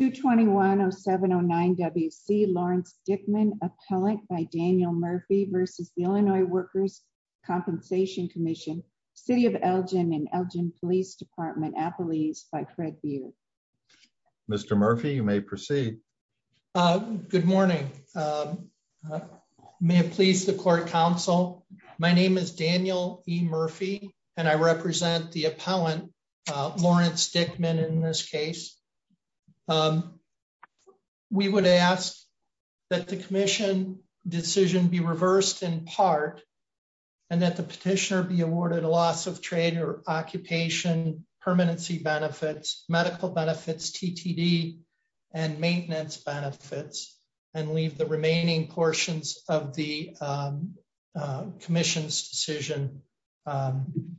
221-0709-WC Lawrence Dickman, Appellant by Daniel Murphy v. Illinois Workers' Compensation Comm'n, City of Elgin and Elgin Police Department, Appalese by Fred Beard. Mr. Murphy, you may proceed. Good morning. May it please the court counsel, my name is Daniel E. Murphy, and I represent the appellant Lawrence Dickman in this case. Um, we would ask that the commission decision be reversed in part, and that the petitioner be awarded a loss of trade or occupation, permanency benefits, medical benefits, TTD, and maintenance benefits, and leave the remaining portions of the commission's decision um,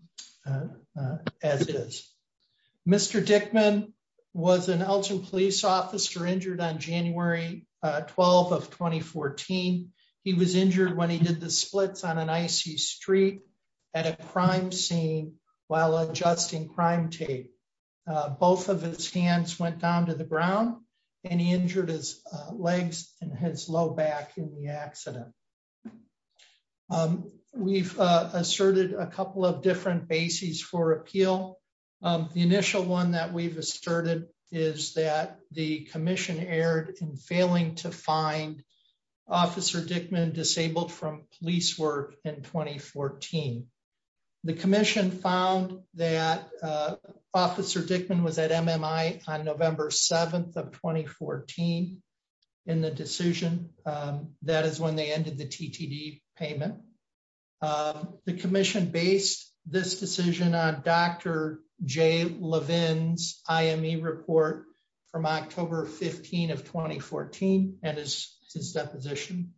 as is. Mr. Dickman was an Elgin police officer injured on January 12th of 2014. He was injured when he did the splits on an icy street at a crime scene while adjusting crime tape. Both of his hands went down to the ground, and he injured his legs and his low back in the couple of different bases for appeal. The initial one that we've asserted is that the commission erred in failing to find Officer Dickman disabled from police work in 2014. The commission found that Officer Dickman was at MMI on November 7th of 2014 in the decision that is when they ended TTD payment. The commission based this decision on Dr. Jay Levin's IME report from October 15th of 2014 and his deposition.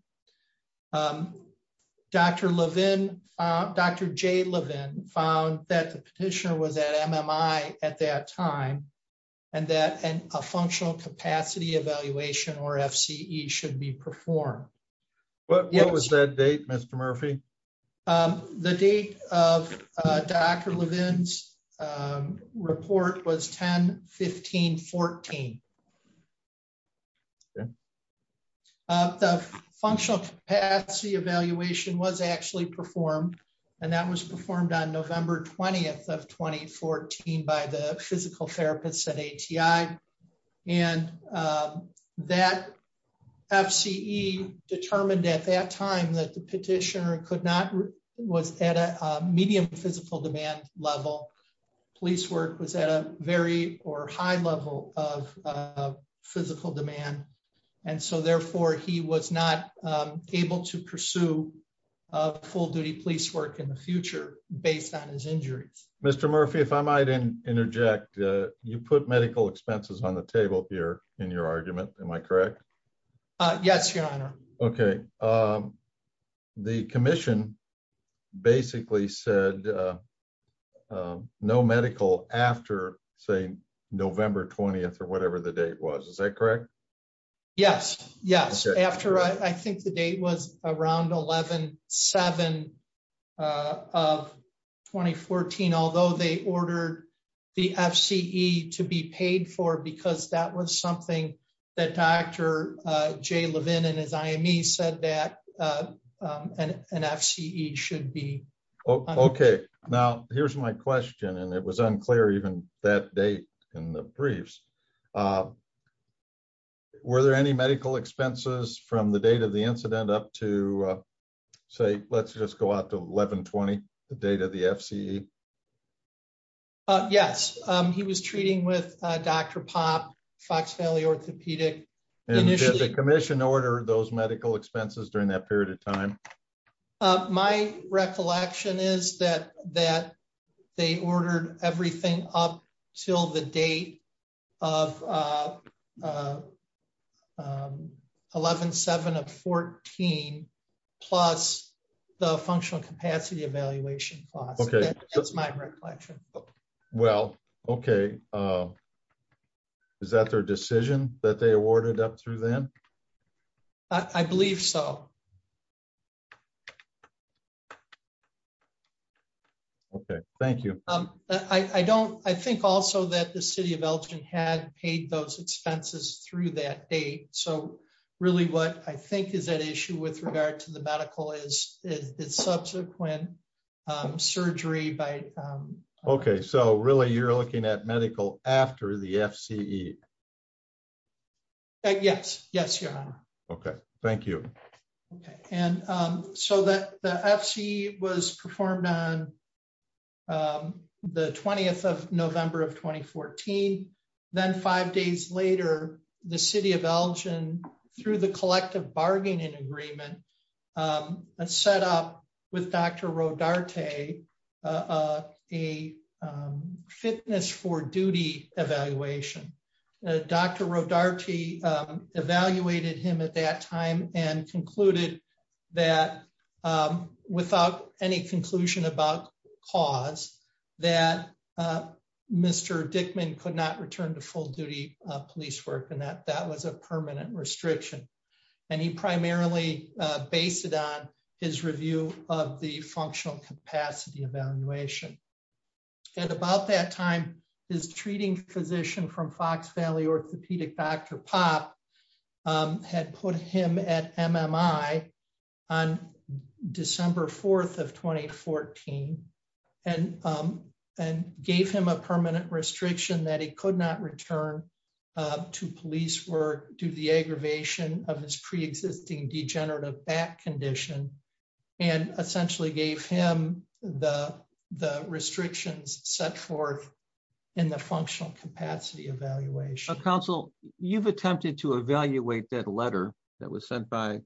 Dr. Levin, Dr. Jay Levin found that the petitioner was at MMI at that time, and that a functional capacity evaluation or FCE should be performed. What was that date, Mr. Murphy? The date of Dr. Levin's report was 10-15-14. The functional capacity evaluation was actually performed, and that was performed on November 20th of 2014 by the physical therapists at ATI. That FCE determined at that time that the petitioner was at a medium physical demand level. Police work was at a very high level of physical demand. Therefore, he was not able to pursue full-duty police work in the future based on his injuries. Mr. Murphy, if I might interject, you put medical expenses on the table here in your argument. Am I correct? Yes, Your Honor. Okay. The commission basically said no medical after, say, November 20th or whatever the date was. Is that correct? Yes. I think the date was around 11-07-2014, although they ordered the FCE to be paid for because that was something that Dr. Jay Levin and his IME said that an FCE should be. Okay. Now, here's my question, and it was unclear even that date in the briefs. Were there any medical expenses from the date of the incident up to, say, let's just go out to 11-20, the date of the FCE? Yes. He was treating with Dr. Pop, Fox Valley Orthopedic. Did the commission order those medical expenses during that period of time? My recollection is that they ordered everything up until the date of 11-07-2014 plus the functional capacity evaluation cost. That's my recollection. Well, okay. Is that their decision that they awarded up through then? I believe so. Okay. Thank you. I think also that the City of Elgin had paid those expenses through that date. Really, what I think is at issue with regard to the medical is the subsequent surgery. Okay. Really, you're looking at medical after the FCE? Yes. Yes, Your Honor. Okay. Thank you. So, the FCE was performed on the 20th of November of 2014. Then five days later, the City of Elgin, through the collective bargaining agreement, set up with Dr. Rodarte a fitness for duty evaluation. Dr. Rodarte evaluated him at that time and concluded that without any conclusion about cause that Mr. Dickman could not return to full duty police work and that that was a permanent restriction. He primarily based it on his review of the functional capacity evaluation. At about that time, his treating physician from Fox Valley Orthopedic, Dr. Popp, had put him at MMI on December 4th of 2014 and gave him a permanent restriction that he could not return to police work due to the aggravation of his preexisting degenerative back condition and essentially gave him the restrictions set forth in the functional capacity evaluation. Counsel, you've attempted to evaluate that letter that was sent by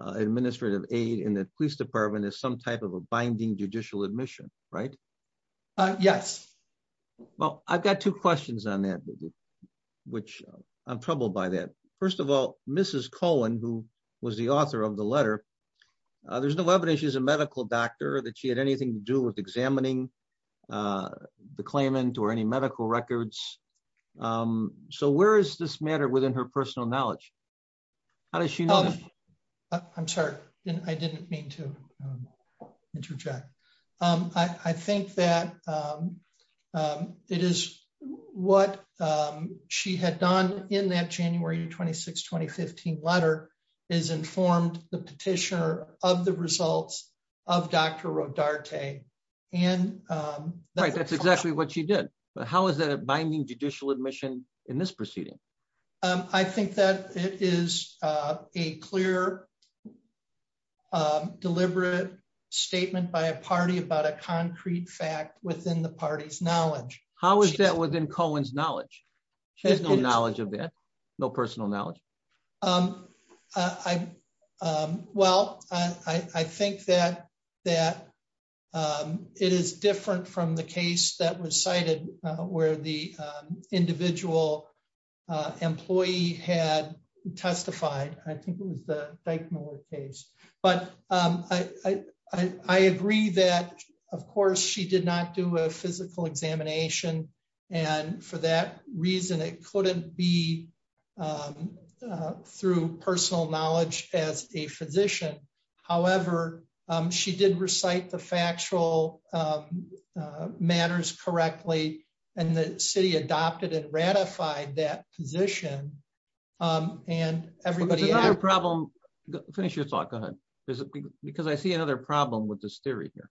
administrative aid in the police department as some type of a binding judicial admission, right? Yes. Well, I've got two questions on that, which I'm troubled by that. First of all, Mrs. Cohen, who was the author of the letter, there's no evidence she's a medical doctor, that she had anything to do with examining the claimant or any medical records. So where is this matter within her personal knowledge? How does she know? I'm sorry, I didn't mean to interject. I think that it is what she had done in that January 26, 2015 letter is informed the petitioner of the results of Dr. Rodarte. Right, that's exactly what she did. But how is that a binding judicial admission in this proceeding? I think that it is a clear, deliberate statement by a party about a concrete fact within the party's knowledge. How is that within Cohen's knowledge? She has no knowledge of that, no personal knowledge. Well, I think that it is different from the case that was cited where the individual employee had testified. I think it was the Dyckmiller case. But I agree that, of course, she did not do a physical examination. And for that reason, it couldn't be through personal knowledge as a physician. However, she did recite the factual matters correctly. And the city adopted and ratified that position. And everybody has a problem. Finish your thought. Go ahead. Because I see another problem with this theory here.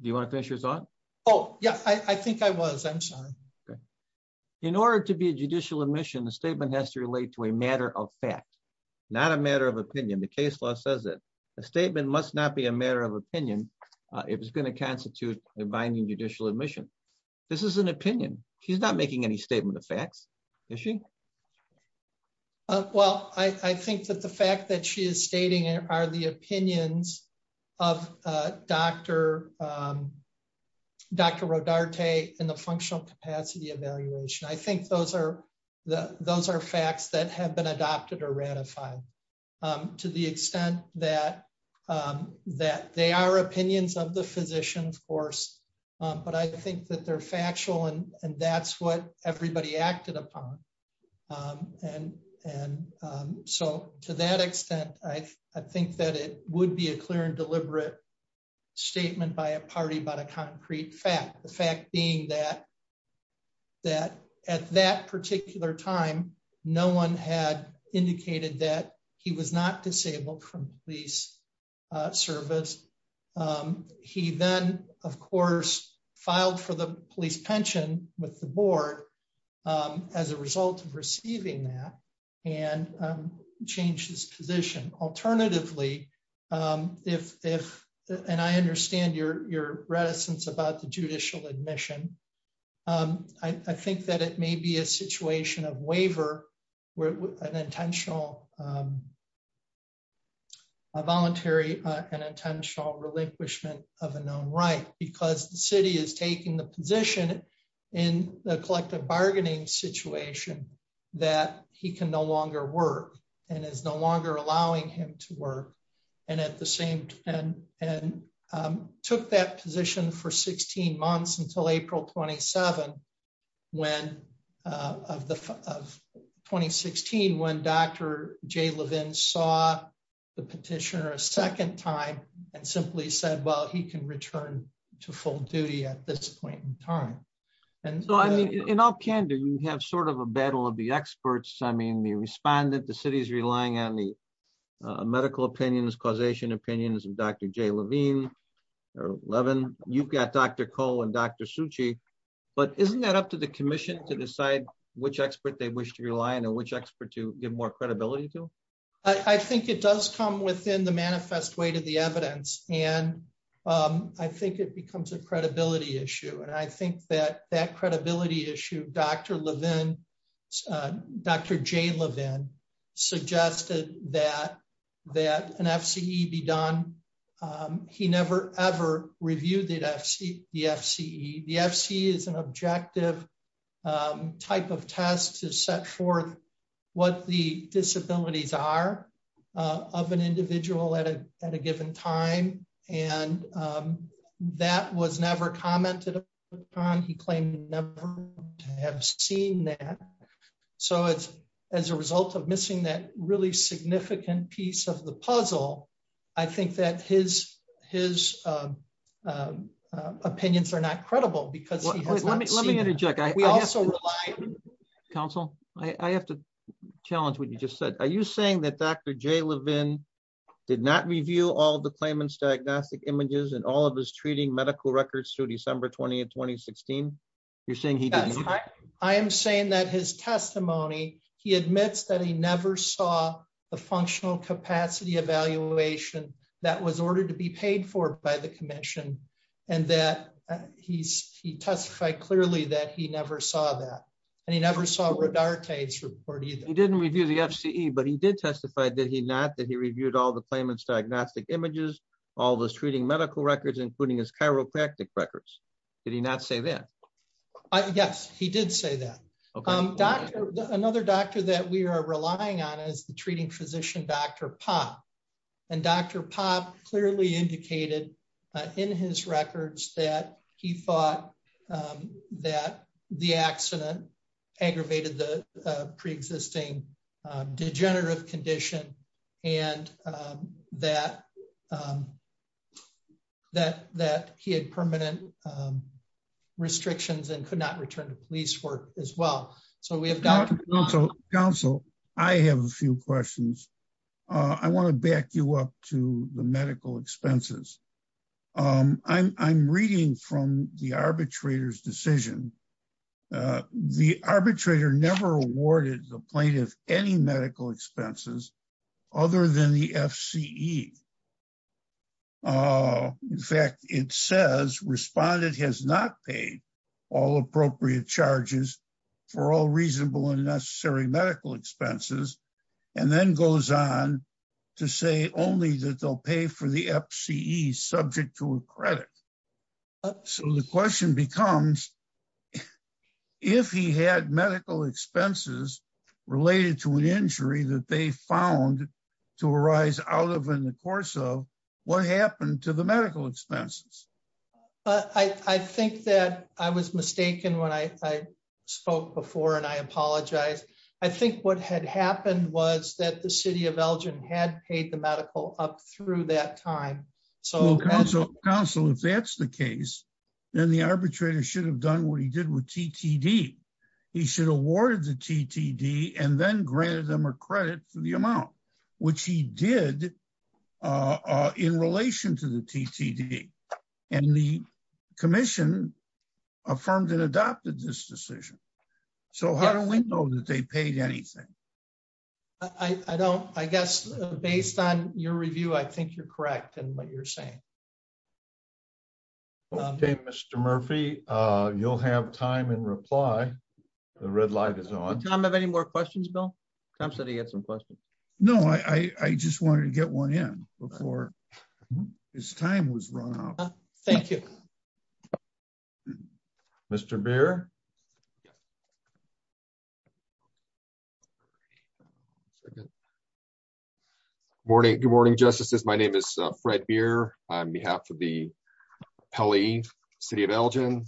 Do you want to finish your thought? Oh, yeah, I think I was. I'm sorry. Okay. In order to be a judicial admission, the statement has to relate to a matter of fact, not a matter of opinion. The case law says that a statement must not be a matter of opinion. It was going to constitute a binding judicial admission. This is an opinion. She's not making any statement of facts. Is she? Well, I think that the fact that she is stating are the opinions of Dr. Rodarte and the functional capacity evaluation. I think those are facts that have been adopted or ratified. To the extent that they are opinions of the physician, of course. But I think that they're factual. And that's what everybody acted upon. And so to that extent, I think that it would be clear and deliberate statement by a party about a concrete fact. The fact being that at that particular time, no one had indicated that he was not disabled from police service. He then, of course, filed for the police pension with the board as a result of receiving that and changed his position. Alternatively, if and I understand your reticence about the judicial admission, I think that it may be a situation of waiver where an intentional voluntary and intentional relinquishment of a known right because the city is taking the position in the collective bargaining situation that he can no longer work and is no longer allowing him to work. And at the same time, and took that position for 16 months until April 27, when of the 2016, when Dr. J. Levin saw the petitioner a second time and simply said, well, he can return to in all candor, you have sort of a battle of the experts. I mean, the respondent, the city's relying on the medical opinions, causation opinions of Dr. J. Levine, or Levin, you've got Dr. Cole and Dr. Suchi. But isn't that up to the commission to decide which expert they wish to rely on or which expert to give more credibility to? I think it does come within the manifest way to the evidence. And I think it becomes a credibility issue. And I think that credibility issue Dr. Levin, Dr. J. Levin, suggested that an FCE be done. He never ever reviewed the FCE. The FCE is an objective type of test to set forth what the disabilities are of an individual at a given time. And that was never commented on. He claimed never to have seen that. So it's as a result of missing that really significant piece of the puzzle. I think that his opinions are not credible because he has not seen it. Let me interject. I also rely... Dr. J. Levin did not review all the claimant's diagnostic images and all of his treating medical records through December 20, 2016. You're saying he... I am saying that his testimony, he admits that he never saw the functional capacity evaluation that was ordered to be paid for by the commission. And that he testified clearly that he never saw that. And he never saw Rodarte's report either. He didn't review the FCE, but he did testify, did he not, that he reviewed all the claimant's diagnostic images, all those treating medical records, including his chiropractic records. Did he not say that? Yes, he did say that. Another doctor that we are relying on is the treating physician, Dr. Popp. And Dr. Popp clearly indicated in his records that he thought that the accident aggravated the preexisting degenerative condition and that he had permanent restrictions and could not return to police work as well. So we have Dr. Popp... Counsel, I have a few questions. I want to back you up to the medical expenses. I'm reading from the arbitrator's decision. The arbitrator never awarded the plaintiff any medical expenses other than the FCE. In fact, it says respondent has not paid all appropriate charges for all reasonable and necessary medical expenses. And then goes on to say only that they'll pay for the FCE subject to a credit. So the question becomes, if he had medical expenses related to an injury that they found to arise out of in the course of, what happened to the medical expenses? I think that I was mistaken when I spoke before, I apologize. I think what had happened was that the city of Elgin had paid the medical up through that time. Counsel, if that's the case, then the arbitrator should have done what he did with TTD. He should have awarded the TTD and then granted them a credit for the amount, which he did in relation to the TTD. And the commission affirmed and adopted this decision. So how do we know that they paid anything? I don't, I guess based on your review, I think you're correct in what you're saying. Okay, Mr. Murphy, you'll have time and reply. The red light is on. Tom have any more questions, Bill? Tom said he had some questions. No, I just wanted to get one in before his time was run out. Thank you. Okay. Mr. Beer. Morning. Good morning, justices. My name is Fred Beer. On behalf of the Pele City of Elgin,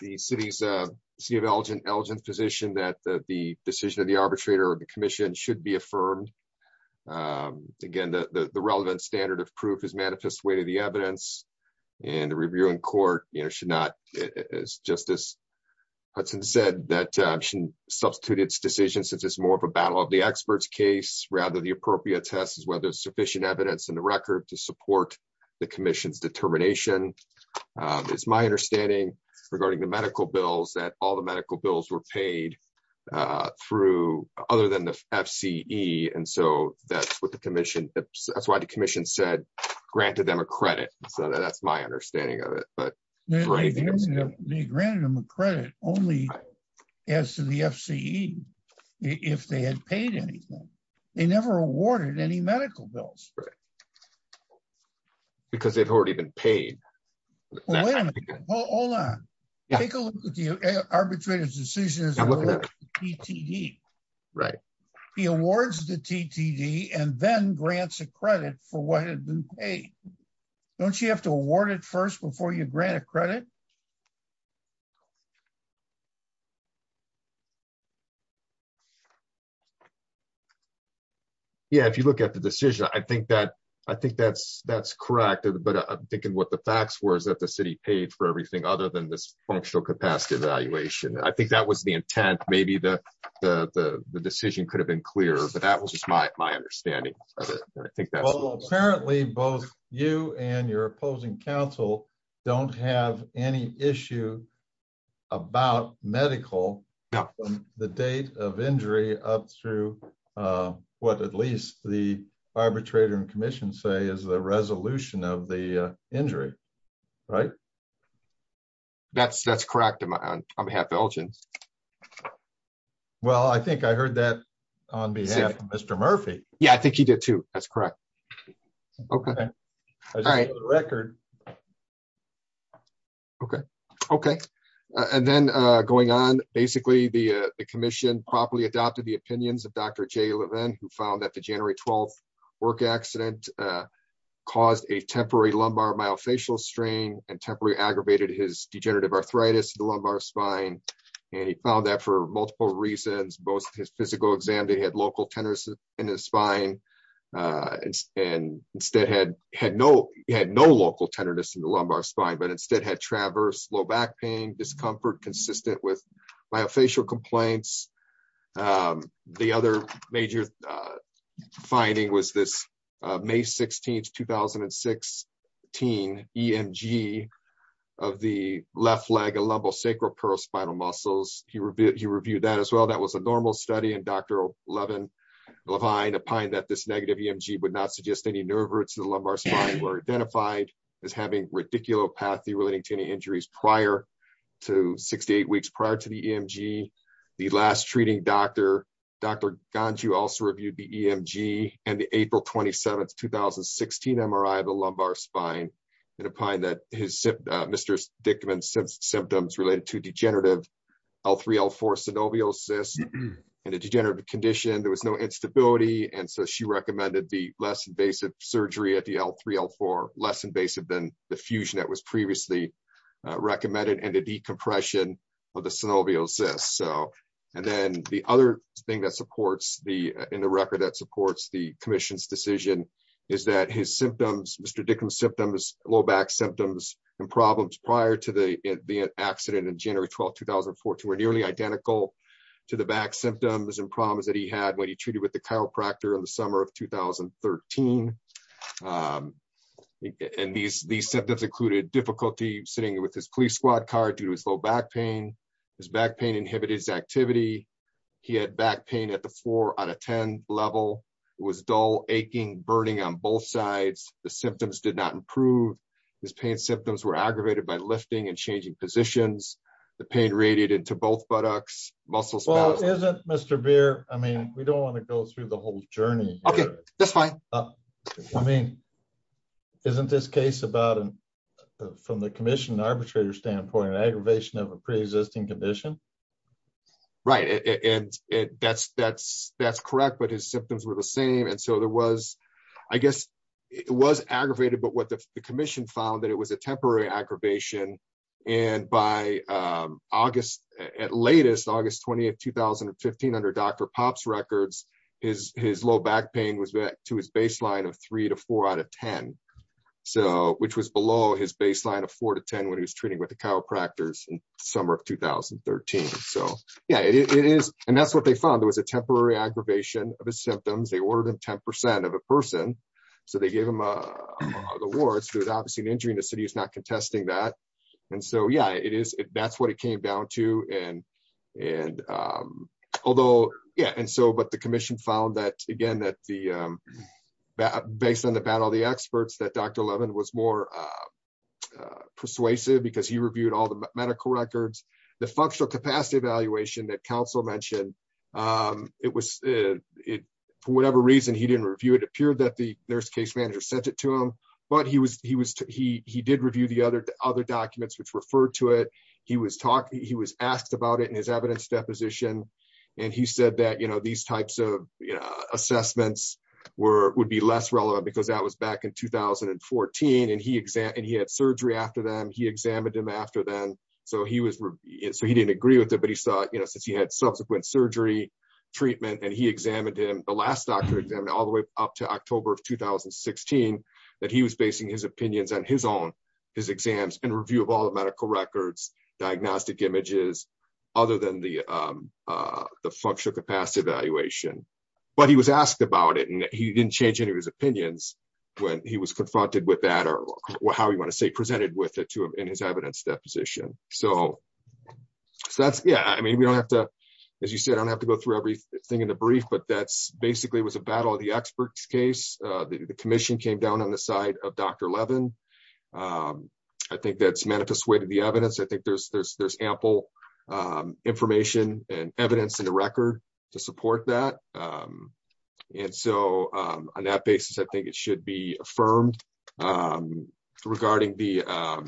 the city of Elgin's position that the decision of the arbitrator of the commission should be affirmed. Again, the relevant standard of proof is manifest way to the evidence and the review in court should not, as Justice Hudson said, that should substitute its decision since it's more of a battle of the experts case rather the appropriate test is whether there's sufficient evidence in the record to support the commission's determination. It's my understanding regarding the medical bills that all the medical bills were paid through other than the FCE. And so that's what the commission, that's why the commission said granted them a credit. So that's my understanding of it. But they granted him a credit only as to the FCE. If they had paid anything, they never awarded any medical bills. Right. Because they've already been paid. Hold on. Take a look at the arbitrator's decisions. He awards the TTD and then grants a credit for what had been paid. Don't you have to award it first before you grant a credit? Yeah, if you look at the decision, I think that's correct. But I'm thinking what the facts were is that the city paid for everything other than this functional capacity evaluation. I think that was intent. Maybe the decision could have been clearer, but that was just my understanding. Apparently, both you and your opposing counsel don't have any issue about medical, the date of injury up through what at least the arbitrator and commission say is the resolution of the injury. Right. That's that's correct. I'm half Belgian. Well, I think I heard that on behalf of Mr. Murphy. Yeah, I think he did, too. That's correct. Okay. All right. Record. Okay. Okay. And then going on, basically, the commission properly adopted the opinions of Dr. Jay Levin, who found that the January 12th accident caused a temporary lumbar myofascial strain and temporarily aggravated his degenerative arthritis in the lumbar spine. And he found that for multiple reasons, both his physical exam, they had local tenderness in his spine and instead had had no had no local tenderness in the lumbar spine, but instead had traverse low back pain, discomfort consistent with myofascial complaints. And the other major finding was this May 16th, 2016 E.M.G. of the left leg, a lumbosacral peripheral spinal muscles. He reviewed that as well. That was a normal study. And Dr. Levin Levine opined that this negative E.M.G. would not suggest any nerve roots in the lumbar spine were identified as having radiculopathy relating to any injuries prior to 68 weeks prior to the E.M.G. The last treating doctor, Dr. Ganju, also reviewed the E.M.G. and the April 27th, 2016 MRI of the lumbar spine and opined that his symptoms related to degenerative L3, L4 synoviosis and a degenerative condition. There was no instability. And so she recommended the less invasive surgery at the L3, L4, less invasive than the fusion that was previously recommended and the decompression of the synovial cyst. So, and then the other thing that supports the in the record that supports the commission's decision is that his symptoms, Mr. Dickens symptoms, low back symptoms and problems prior to the accident in January 12th, 2014, were nearly identical to the back symptoms and problems that he had when he treated with the chiropractor in the summer of 2013. And these symptoms included difficulty sitting with his police squad car due to his low back pain. His back pain inhibited his activity. He had back pain at the four out of 10 level. It was dull, aching, burning on both sides. The symptoms did not improve. His pain symptoms were aggravated by lifting and changing positions. The pain radiated to both buttocks, muscles. Well, isn't Mr. Beer, I mean, we don't want to go through the whole journey. Okay, that's fine. I mean, isn't this case about from the commission arbitrator standpoint, an aggravation of a pre-existing condition? Right. And that's correct, but his symptoms were the same. And so there was, I guess it was aggravated, but what the commission found that was a temporary aggravation. And by August, at latest August 20th, 2015, under Dr. Pop's records, his low back pain was back to his baseline of three to four out of 10. So which was below his baseline of four to 10 when he was treating with the chiropractors in summer of 2013. So yeah, it is. And that's what they found. There was a temporary aggravation of his symptoms. They is not contesting that. And so yeah, it is. That's what it came down to. And, and although, yeah, and so but the commission found that, again, that the that based on the battle, the experts that Dr. Levin was more persuasive because he reviewed all the medical records, the functional capacity evaluation that council mentioned, it was it, whatever reason he didn't review, it appeared that the nurse case manager sent it to him. But he was he was he he did review the other other documents which referred to it. He was talking, he was asked about it in his evidence deposition. And he said that, you know, these types of assessments were would be less relevant, because that was back in 2014. And he exam and he had surgery after them, he examined him after then. So he was so he didn't agree with it. But he saw, you know, since he had subsequent surgery, treatment, and he examined him the last doctor examined all the way up to October of 2016, that he was basing his opinions on his own, his exams and review of all the medical records, diagnostic images, other than the the functional capacity evaluation. But he was asked about it. And he didn't change any of his opinions. When he was confronted with that, or how you want to say presented with it to him in his evidence deposition. So that's Yeah, I mean, we don't have to, as you said, I don't have to go through everything in the brief. But that's basically was a battle of the experts case, the commission came down on the side of Dr. Levin. I think that's manifest weight of the evidence. I think there's there's there's ample information and evidence in the record to support that. And so on that basis, I think it should be affirmed. Regarding the I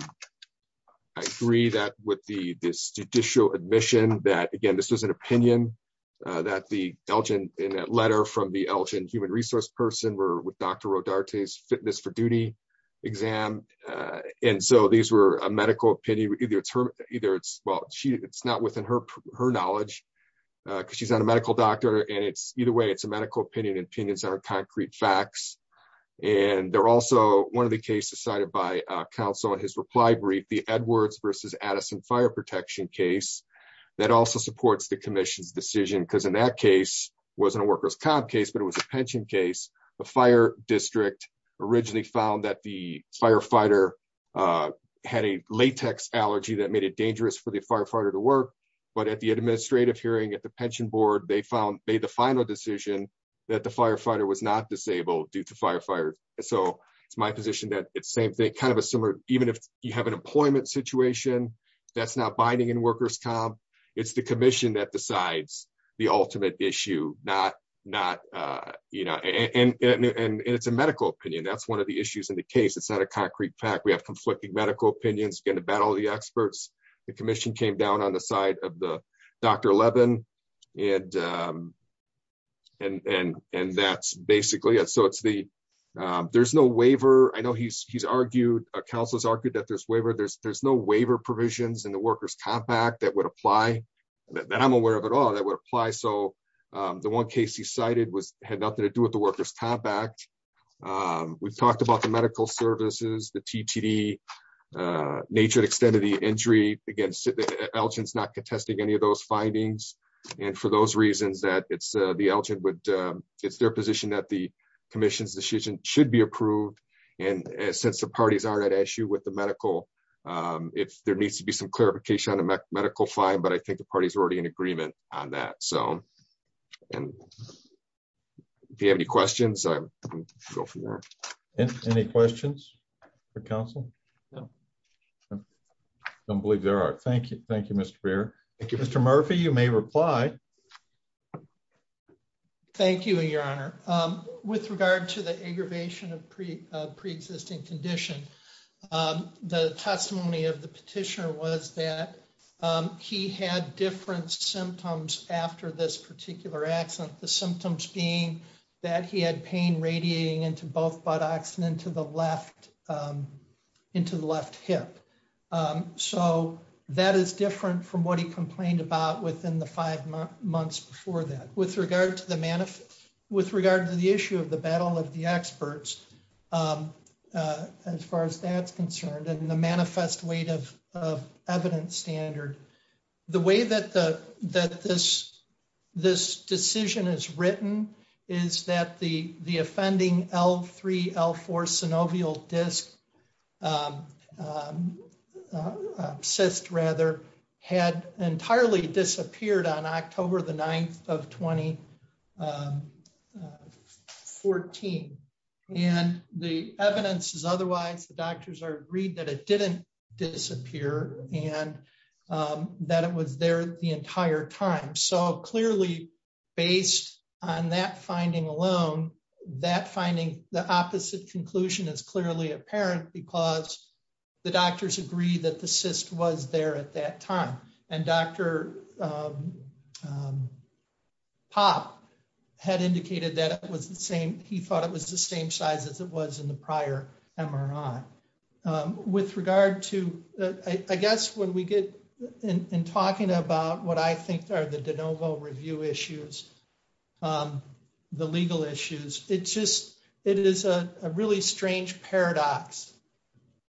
agree that with the this judicial admission that again, this was an opinion that the Elgin in that letter from the Elgin human resource person were with Dr. Rodarte's fitness for duty exam. And so these were a medical opinion, either it's her either it's well, she it's not within her, her knowledge, because she's not a medical doctor. And it's either way, it's a medical opinion and opinions are concrete facts. And they're also one of the cases cited by counsel in his reply brief, the Edwards versus Addison fire protection case, that also supports the commission's decision because in that case, wasn't a workers comp case, but it was a pension case, the fire district originally found that the firefighter had a latex allergy that made it dangerous for the firefighter to work. But at the administrative hearing at the pension board, they found they the final decision that the firefighter was not disabled due to firefighters. So it's my position that it's same thing kind of a similar even if you have an employment situation, that's not binding and workers comp, it's the commission that decides the ultimate issue not not, you know, and it's a medical opinion. That's one of the issues in the case. It's not a concrete fact we have conflicting medical opinions going to battle the experts, the commission came down on the side of the Dr. Levin. And, and, and, and that's basically it. So it's the, there's no waiver. I know he's, he's argued a council's argued that there's waiver, there's there's no waiver provisions in the workers compact that would apply that I'm aware of at all that would apply. So the one case he cited was had nothing to do with the workers compact. We've talked about the medical services, the TTD nature and extent of the injury against Elgin's not contesting any of those findings. And for those reasons that it's the Elgin would, it's their position that the commission's decision should be approved. And since the parties aren't at issue with the medical, if there needs to be some clarification on a medical fine, but I think the party's already in agreement on that. So and if you have any questions, go for it. Any questions for council? No, don't believe there are. Thank you. Thank you, Mr. Mayor. Thank you, Mr. Murphy. You may reply. Thank you, Your Honor. With regard to the aggravation of pre preexisting condition, the testimony of the petitioner was that he had different symptoms after this particular accident, the symptoms being that he had pain radiating into both buttocks and into the left, into the left hip. So that is different from what he complained about within the five months before that, with regard to the manifest, with regard to the issue of the battle of the experts. As far as that's concerned, and the manifest weight of evidence standard, the way that this this decision is written is that the the offending L3 L4 synovial disc cyst rather had entirely disappeared on October the 9th of 2014. And the evidence is otherwise the doctors are agreed that it didn't disappear and that it was there the entire time. So clearly, based on that finding alone, that finding the opposite conclusion is clearly apparent because the doctors agree that the cyst was there at that time. And Dr. Pop had indicated that it was the same. He thought it was the same size as it was in the prior MRI. With regard to I guess when we get in talking about what I think are the de novo review issues, the legal issues, it's just it is a really strange paradox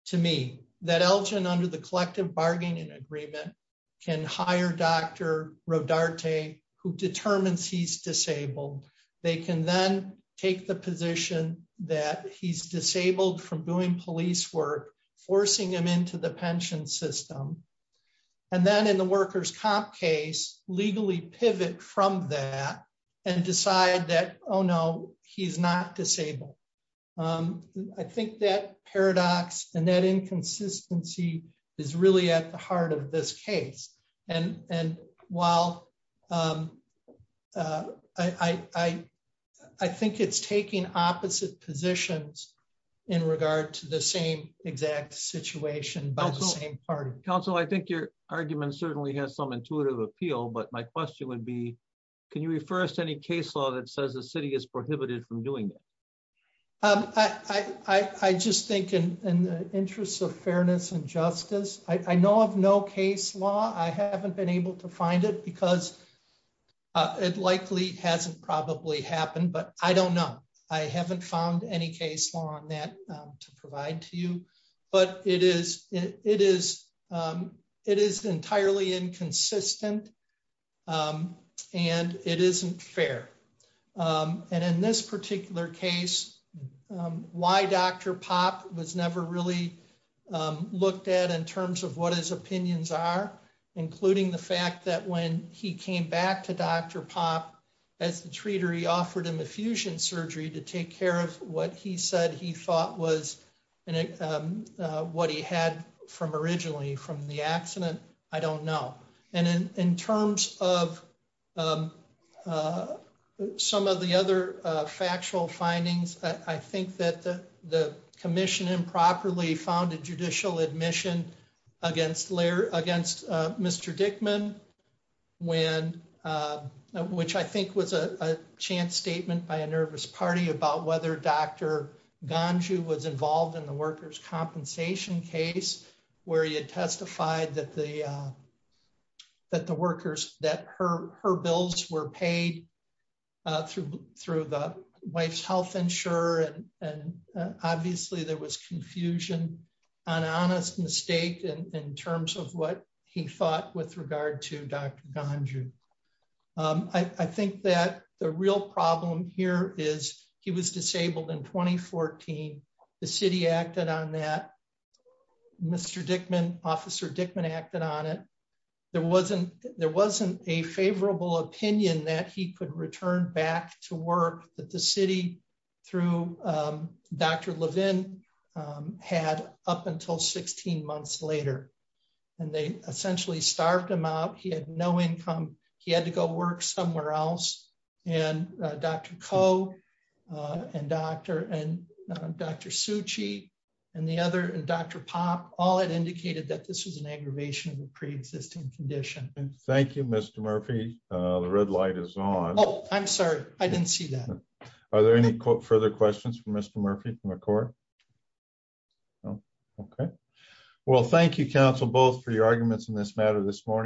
to me that Elgin under the collective bargaining agreement can hire Dr. Rodarte, who determines he's disabled, they can then take the position that he's disabled from doing police work, forcing him into the pension system. And then in the workers comp case, legally pivot from that, and decide that, oh, no, he's not disabled. I think that paradox and that inconsistency is really at the heart of this case. And while I, I think it's taking opposite positions in regard to the same exact situation by the same party. Council, I think your argument certainly has some intuitive appeal. But my question would be, can you refer us to any case law that says the city is prohibited from doing that? I just think in the interest of fairness and justice, I know of no case law, I haven't been able to find it because it likely hasn't probably happened. But I don't know. I haven't found any case law on that to provide to you. But it is entirely inconsistent. And it isn't fair. And in this particular case, why Dr. Pop was never really looked at in terms of what his opinions are, including the fact that when he came back to Dr. Pop, as the treater, he offered him a fusion surgery to take care of what he said he thought was what he had from originally from the accident. I don't know. And in terms of some of the other factual findings, I think that the commission improperly found a judicial admission against Mr. Dickman, when, which I think was a chance statement by a nervous party about whether Dr. Ganju was involved in the workers' compensation case, where he had testified that the workers that her bills were paid through the wife's health insurer. And obviously, there was confusion, an honest mistake in terms of what he thought with regard to Dr. Ganju. I think that the real problem here is he was disabled in 2014. The city acted on that. Mr. Dickman, Officer Dickman acted on it. There wasn't a favorable opinion that he could return back to work that the city through Dr. Levin had up until 16 months later. And they essentially starved him out. He had no income. He had to go work somewhere else. And Dr. Koh, and Dr. Suchi, and the other Dr. Pop, all had indicated that this was an aggravation of the pre-existing condition. Thank you, Mr. Murphy. The red light is on. Oh, I'm sorry. I didn't see that. Are there any further questions for Mr. Murphy from the court? Okay. Well, thank you, counsel, both for your arguments in this matter this morning.